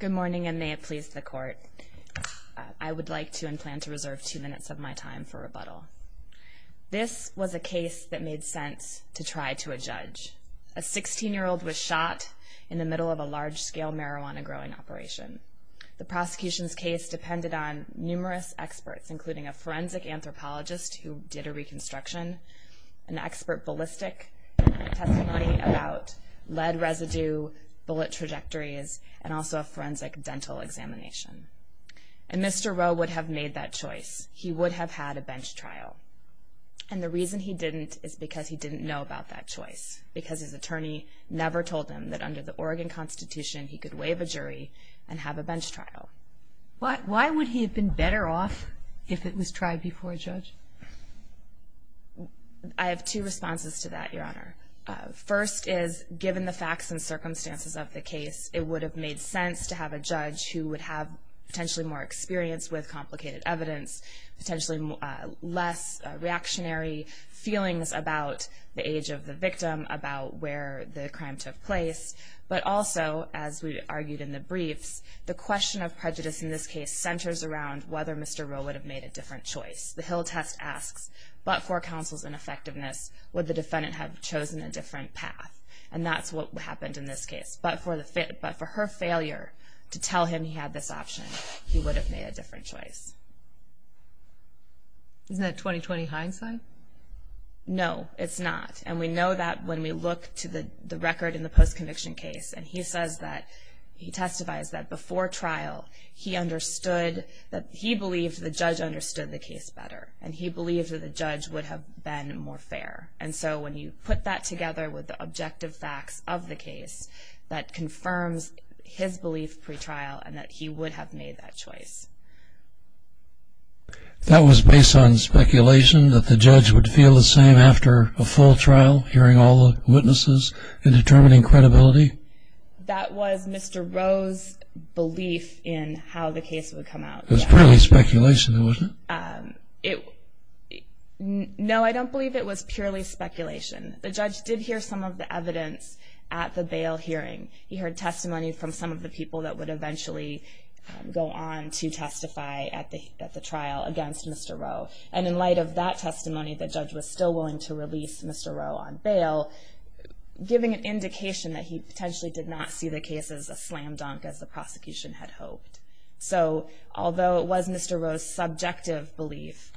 Good morning, and may it please the Court, I would like to and plan to reserve two minutes of my time for rebuttal. This was a case that made sense to try to adjudge. A 16-year-old was shot in the middle of a large-scale marijuana growing operation. The prosecution's case depended on numerous experts, including a forensic anthropologist who did a reconstruction, an expert ballistic testimony about lead residue, bullet trajectories, and also a forensic dental examination. And Mr. Roe would have made that choice. He would have had a bench trial. And the reason he didn't is because he didn't know about that choice, because his attorney never told him that under the Oregon Constitution he could waive a jury and have a bench trial. Why would he have been better off if it was tried before a judge? I have two responses to that, Your Honor. First is, given the facts and circumstances of the case, it would have made sense to have a judge who would have potentially more experience with complicated evidence, potentially less reactionary feelings about the age of the victim, about where the crime took place. But also, as we argued in the briefs, the question of prejudice in this case centers around whether Mr. Roe would have made a different choice. The Hill test asks, but for counsel's ineffectiveness, would the defendant have chosen a different path? And that's what happened in this case. But for her failure to tell him he had this option, he would have made a different choice. Isn't that 20-20 hindsight? No, it's not. And we know that when we look to the record in the post-conviction case, and he says that he testifies that before trial he understood that he believed the judge understood the case better, and he believed that the judge would have been more fair. And so when you put that together with the objective facts of the case, that confirms his belief pre-trial and that he would have made that choice. That was based on speculation that the judge would feel the same after a full trial, hearing all the witnesses and determining credibility? That was Mr. Roe's belief in how the case would come out. It was purely speculation, wasn't it? No, I don't believe it was purely speculation. The judge did hear some of the evidence at the bail hearing. He heard testimony from some of the people that would eventually go on to testify at the trial against Mr. Roe. And in light of that testimony, the judge was still willing to release Mr. Roe on bail, giving an indication that he potentially did not see the case as a slam dunk as the prosecution had hoped. So although it was Mr. Roe's subjective belief,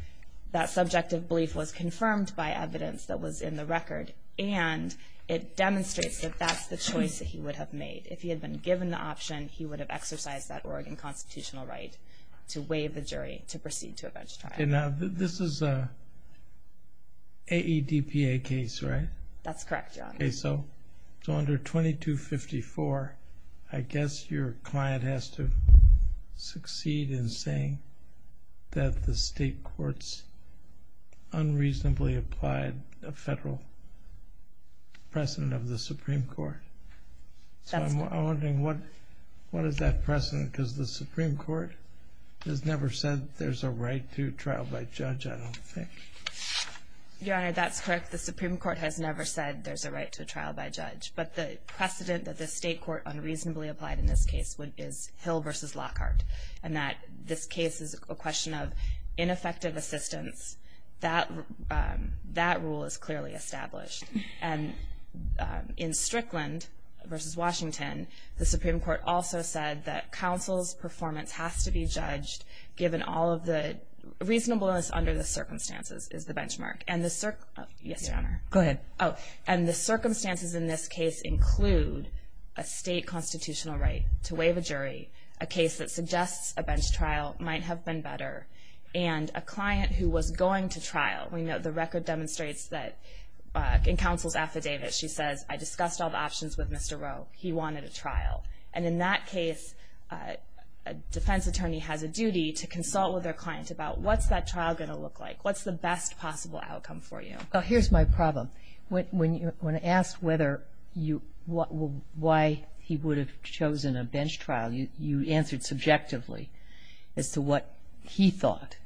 that subjective belief was confirmed by evidence that was in the record, and it demonstrates that that's the choice that he would have made. If he had been given the option, he would have exercised that Oregon constitutional right to waive the jury to proceed to a bench trial. And now this is an AEDPA case, right? That's correct, Your Honor. Okay, so under 2254, I guess your client has to succeed in saying that the state courts unreasonably applied a federal precedent of the Supreme Court. So I'm wondering, what is that precedent? Because the Supreme Court has never said there's a right to trial by judge, I don't think. Your Honor, that's correct. The Supreme Court has never said there's a right to trial by judge. But the precedent that the state court unreasonably applied in this case is Hill v. Lockhart, and that this case is a question of ineffective assistance. That rule is clearly established. And in Strickland v. Washington, the Supreme Court also said that counsel's performance has to be judged, given all of the reasonableness under the circumstances is the benchmark. And the circumstances in this case include a state constitutional right to waive a jury, a case that suggests a bench trial might have been better, and a client who was going to trial. We know the record demonstrates that in counsel's affidavit, she says, I discussed all the options with Mr. Rowe. He wanted a trial. And in that case, a defense attorney has a duty to consult with their client about, what's that trial going to look like? What's the best possible outcome for you? Well, here's my problem. When asked whether you why he would have chosen a bench trial, you answered subjectively as to what he thought.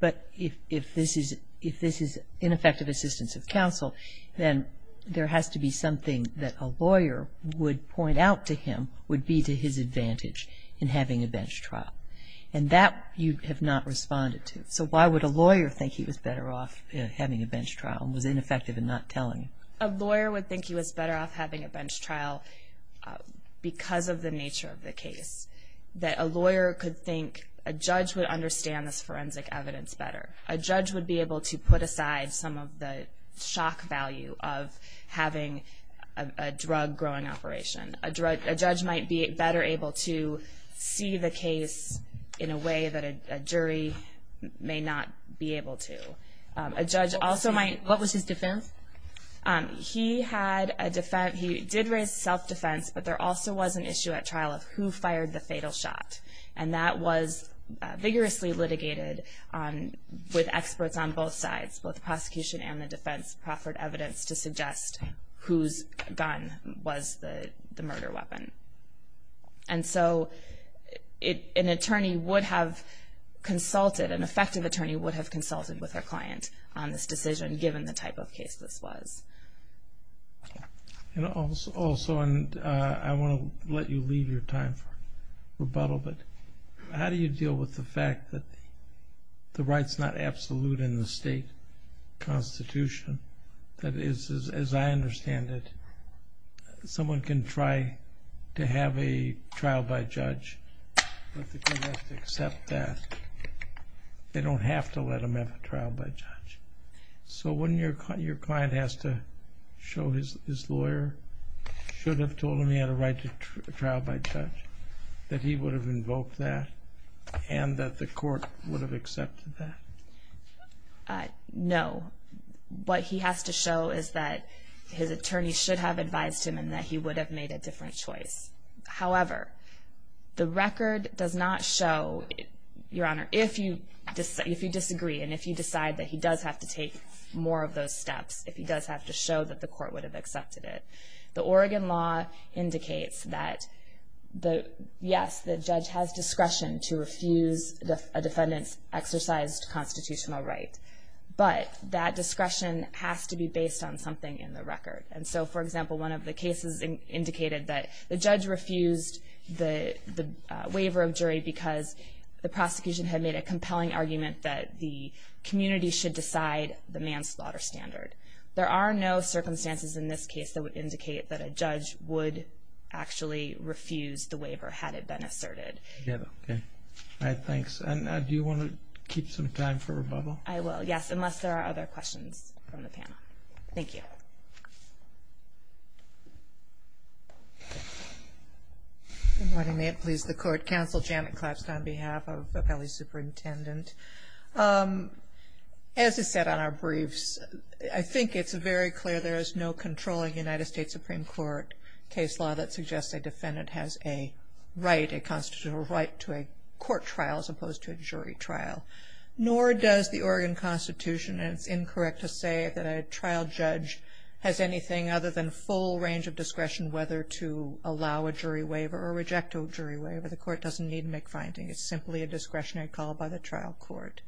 But if this is ineffective assistance of counsel, then there has to be something that a lawyer would point out to him would be to his advantage in having a bench trial. And that you have not responded to. So why would a lawyer think he was better off having a bench trial and was ineffective in not telling? A lawyer would think he was better off having a bench trial because of the nature of the case. That a lawyer could think a judge would understand this forensic evidence better. A judge would be able to put aside some of the shock value of having a drug growing operation. A judge might be better able to see the case in a way that a jury may not be able to. What was his defense? He did raise self-defense, but there also was an issue at trial of who fired the fatal shot. And that was vigorously litigated with experts on both sides, both the prosecution and the defense, proffered evidence to suggest whose gun was the murder weapon. And so an attorney would have consulted, an effective attorney would have consulted with their client on this decision, given the type of case this was. And also, and I want to let you leave your time for rebuttal, but how do you deal with the fact that the right's not absolute in the state constitution? That is, as I understand it, someone can try to have a trial by judge, but the court has to accept that they don't have to let them have a trial by judge. So when your client has to show his lawyer should have told him he had a right to trial by judge, that he would have invoked that and that the court would have accepted that? No. What he has to show is that his attorney should have advised him and that he would have made a different choice. However, the record does not show, Your Honor, if you disagree and if you decide that he does have to take more of those steps, if he does have to show that the court would have accepted it. The Oregon law indicates that yes, the judge has discretion to refuse a defendant's exercised constitutional right, but that discretion has to be based on something in the record. And so, for example, one of the cases indicated that the judge refused the waiver of jury because the prosecution had made a compelling argument that the community should decide the manslaughter standard. There are no circumstances in this case that would indicate that a judge would actually refuse the waiver had it been asserted. All right, thanks. And do you want to keep some time for rebuttal? I will, yes, unless there are other questions from the panel. Thank you. Good morning. May it please the Court. Counsel Janet Klapstad on behalf of Appellee Superintendent. As is said on our briefs, I think it's very clear there is no controlling United States Supreme Court case law that suggests a defendant has a right, a constitutional right, to a court trial as opposed to a jury trial. Nor does the Oregon Constitution, and it's incorrect to say, that a trial judge has anything other than full range of discretion whether to allow a jury waiver or reject a jury waiver. The court doesn't need to make findings. It's simply a discretionary call by the trial court.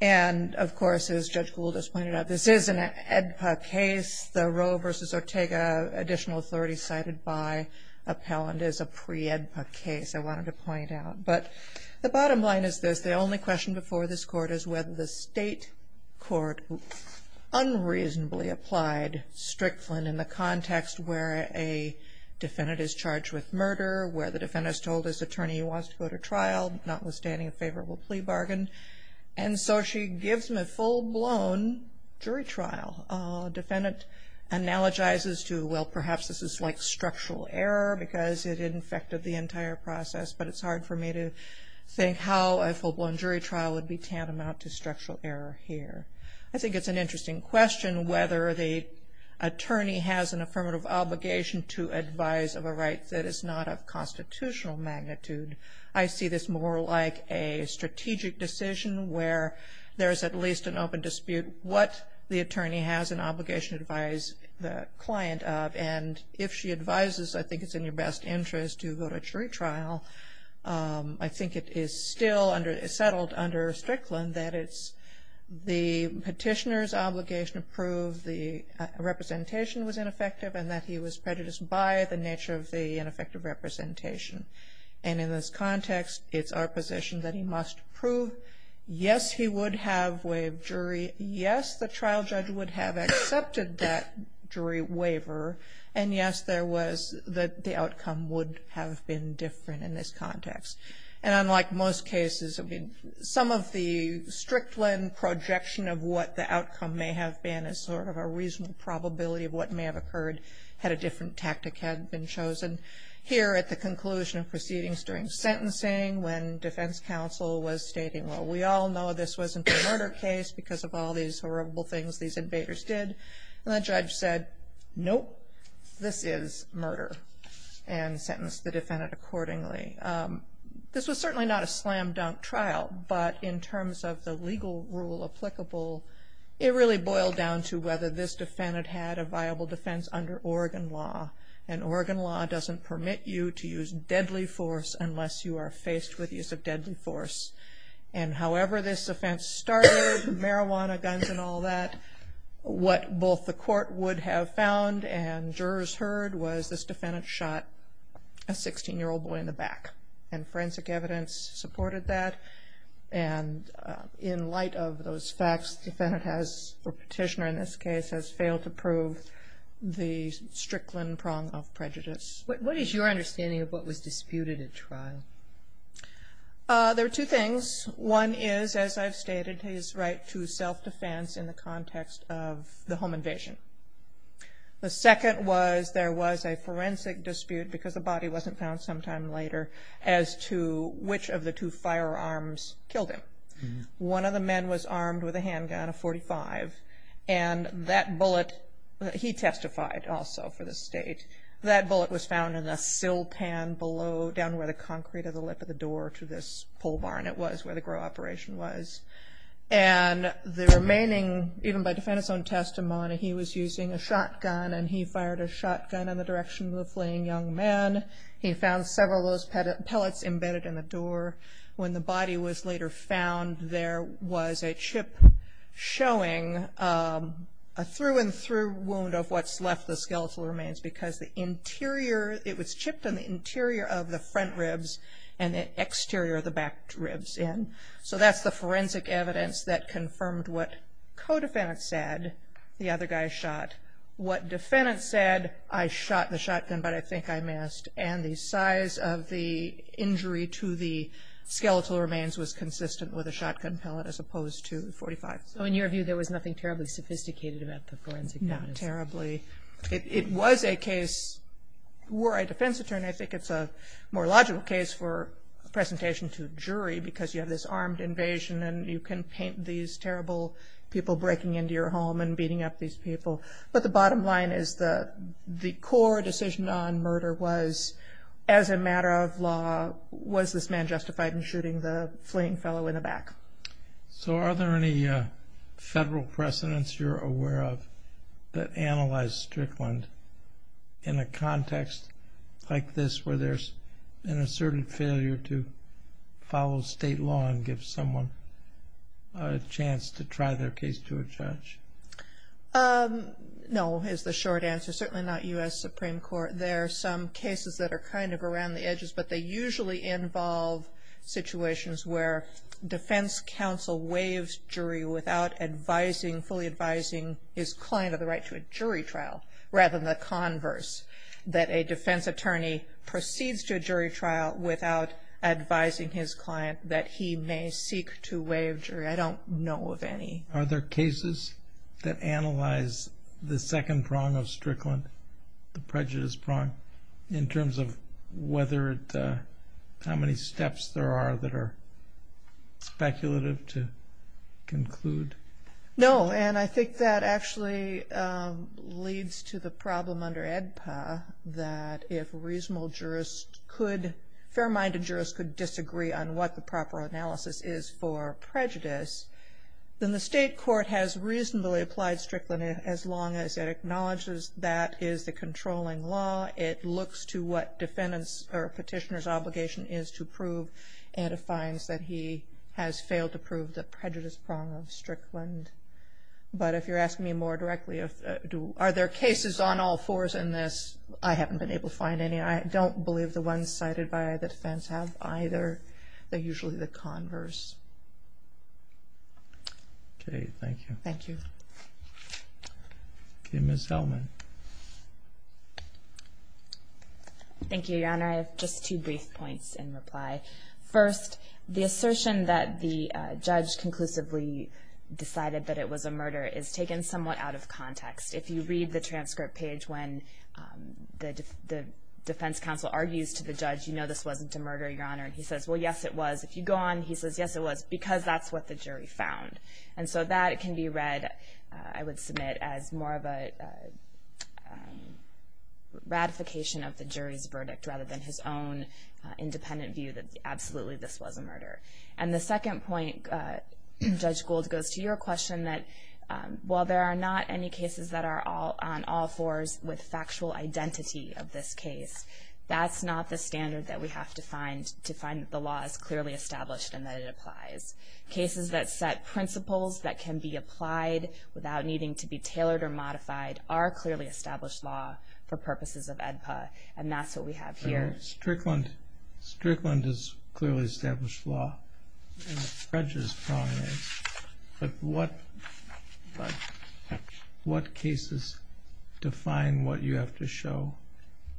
And, of course, as Judge Gould has pointed out, this is an AEDPA case. The Roe v. Ortega additional authority cited by Appellant is a pre-AEDPA case, I wanted to point out. But the bottom line is this. The only question before this Court is whether the state court unreasonably applied Strickland in the context where a defendant is charged with murder, where the defendant is told his attorney wants to go to trial, notwithstanding a favorable plea bargain. And so she gives him a full-blown jury trial. A defendant analogizes to, well, perhaps this is like structural error because it infected the entire process, but it's hard for me to think how a full-blown jury trial would be tantamount to structural error here. I think it's an interesting question whether the attorney has an affirmative obligation to advise of a right that is not of constitutional magnitude. I see this more like a strategic decision where there is at least an open dispute what the attorney has an obligation to advise the client of. And if she advises, I think it's in your best interest to go to jury trial, I think it is still settled under Strickland that it's the petitioner's obligation to prove the representation was ineffective and that he was prejudiced by the nature of the ineffective representation. And in this context, it's our position that he must prove, yes, he would have waived jury, yes, the trial judge would have accepted that jury waiver, and yes, there was the outcome would have been different in this context. And unlike most cases, some of the Strickland projection of what the outcome may have been is sort of a reasonable probability of what may have occurred had a different tactic had been chosen. Here at the conclusion of proceedings during sentencing when defense counsel was stating, well, we all know this wasn't a murder case because of all these horrible things these invaders did, and the judge said, nope, this is murder, and sentenced the defendant accordingly. This was certainly not a slam dunk trial, but in terms of the legal rule applicable, it really boiled down to whether this defendant had a viable defense under Oregon law. And Oregon law doesn't permit you to use deadly force unless you are faced with use of deadly force. And however this offense started, marijuana, guns, and all that, what both the court would have found and jurors heard was this defendant shot a 16-year-old boy in the back, and forensic evidence supported that. And in light of those facts, the defendant has, or petitioner in this case, has failed to prove the Strickland prong of prejudice. There are two things. One is, as I've stated, his right to self-defense in the context of the home invasion. The second was there was a forensic dispute because the body wasn't found sometime later as to which of the two firearms killed him. One of the men was armed with a handgun, a .45, and that bullet, he testified also for the state, that bullet was found in the sill pan below, down where the concrete of the lip of the door to this pole barn, it was where the GRO operation was. And the remaining, even by defendant's own testimony, he was using a shotgun, and he fired a shotgun in the direction of the fleeing young man. He found several of those pellets embedded in the door. When the body was later found, there was a chip showing a through-and-through wound of what's left of the skeletal remains because the interior, it was chipped in the interior of the front ribs and the exterior of the back ribs in. So that's the forensic evidence that confirmed what co-defendant said, the other guy shot. What defendant said, I shot the shotgun, but I think I missed. And the size of the injury to the skeletal remains was consistent with a shotgun pellet as opposed to .45. So in your view, there was nothing terribly sophisticated about the forensic evidence? Not terribly. It was a case where a defense attorney, I think it's a more logical case for presentation to a jury because you have this armed invasion, and you can paint these terrible people breaking into your home and beating up these people. But the bottom line is the core decision on murder was, as a matter of law, was this man justified in shooting the fleeing fellow in the back? So are there any federal precedents you're aware of that analyze Strickland in a context like this where there's an asserted failure to follow state law and give someone a chance to try their case to a judge? No, is the short answer, certainly not U.S. Supreme Court. There are some cases that are kind of around the edges, but they usually involve situations where defense counsel waives jury without advising, fully advising his client of the right to a jury trial rather than the converse, that a defense attorney proceeds to a jury trial without advising his client that he may seek to waive jury. I don't know of any. Are there cases that analyze the second prong of Strickland, the prejudice prong, in terms of how many steps there are that are speculative to conclude? No, and I think that actually leads to the problem under AEDPA that if a reasonable jurist could, a fair-minded jurist could disagree on what the proper analysis is for prejudice, then the state court has reasonably applied Strickland as long as it acknowledges that is the controlling law. It looks to what defendant's or petitioner's obligation is to prove and it finds that he has failed to prove the prejudice prong of Strickland. But if you're asking me more directly, are there cases on all fours in this, I haven't been able to find any. I don't believe the ones cited by the defense have either. They're usually the converse. Okay, thank you. Thank you. Okay, Ms. Zellman. Thank you, Your Honor. I have just two brief points in reply. First, the assertion that the judge conclusively decided that it was a murder is taken somewhat out of context. If you read the transcript page when the defense counsel argues to the judge, you know this wasn't a murder, Your Honor. He says, well, yes, it was. If you go on, he says, yes, it was because that's what the jury found. And so that can be read, I would submit, as more of a ratification of the jury's verdict rather than his own independent view that absolutely this was a murder. And the second point, Judge Gould, goes to your question that while there are not any cases that are on all fours with factual identity of this case, that's not the standard that we have to find to find that the law is clearly established and that it applies. Cases that set principles that can be applied without needing to be tailored or modified are clearly established law for purposes of AEDPA, and that's what we have here. Strickland is clearly established law, and the prejudice problem is. But what cases define what you have to show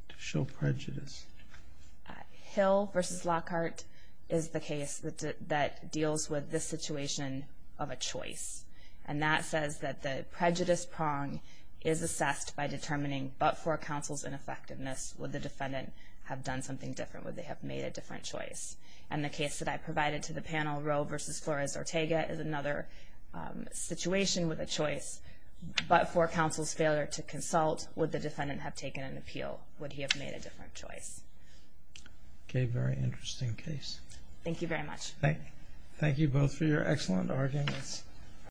to show prejudice? Hill v. Lockhart is the case that deals with this situation of a choice. And that says that the prejudice prong is assessed by determining but for counsel's ineffectiveness, would the defendant have done something different? Would they have made a different choice? And the case that I provided to the panel, Roe v. Flores-Ortega, is another situation with a choice, but for counsel's failure to consult, would the defendant have taken an appeal? Would he have made a different choice? Okay, very interesting case. Thank you very much. Thank you both for your excellent arguments.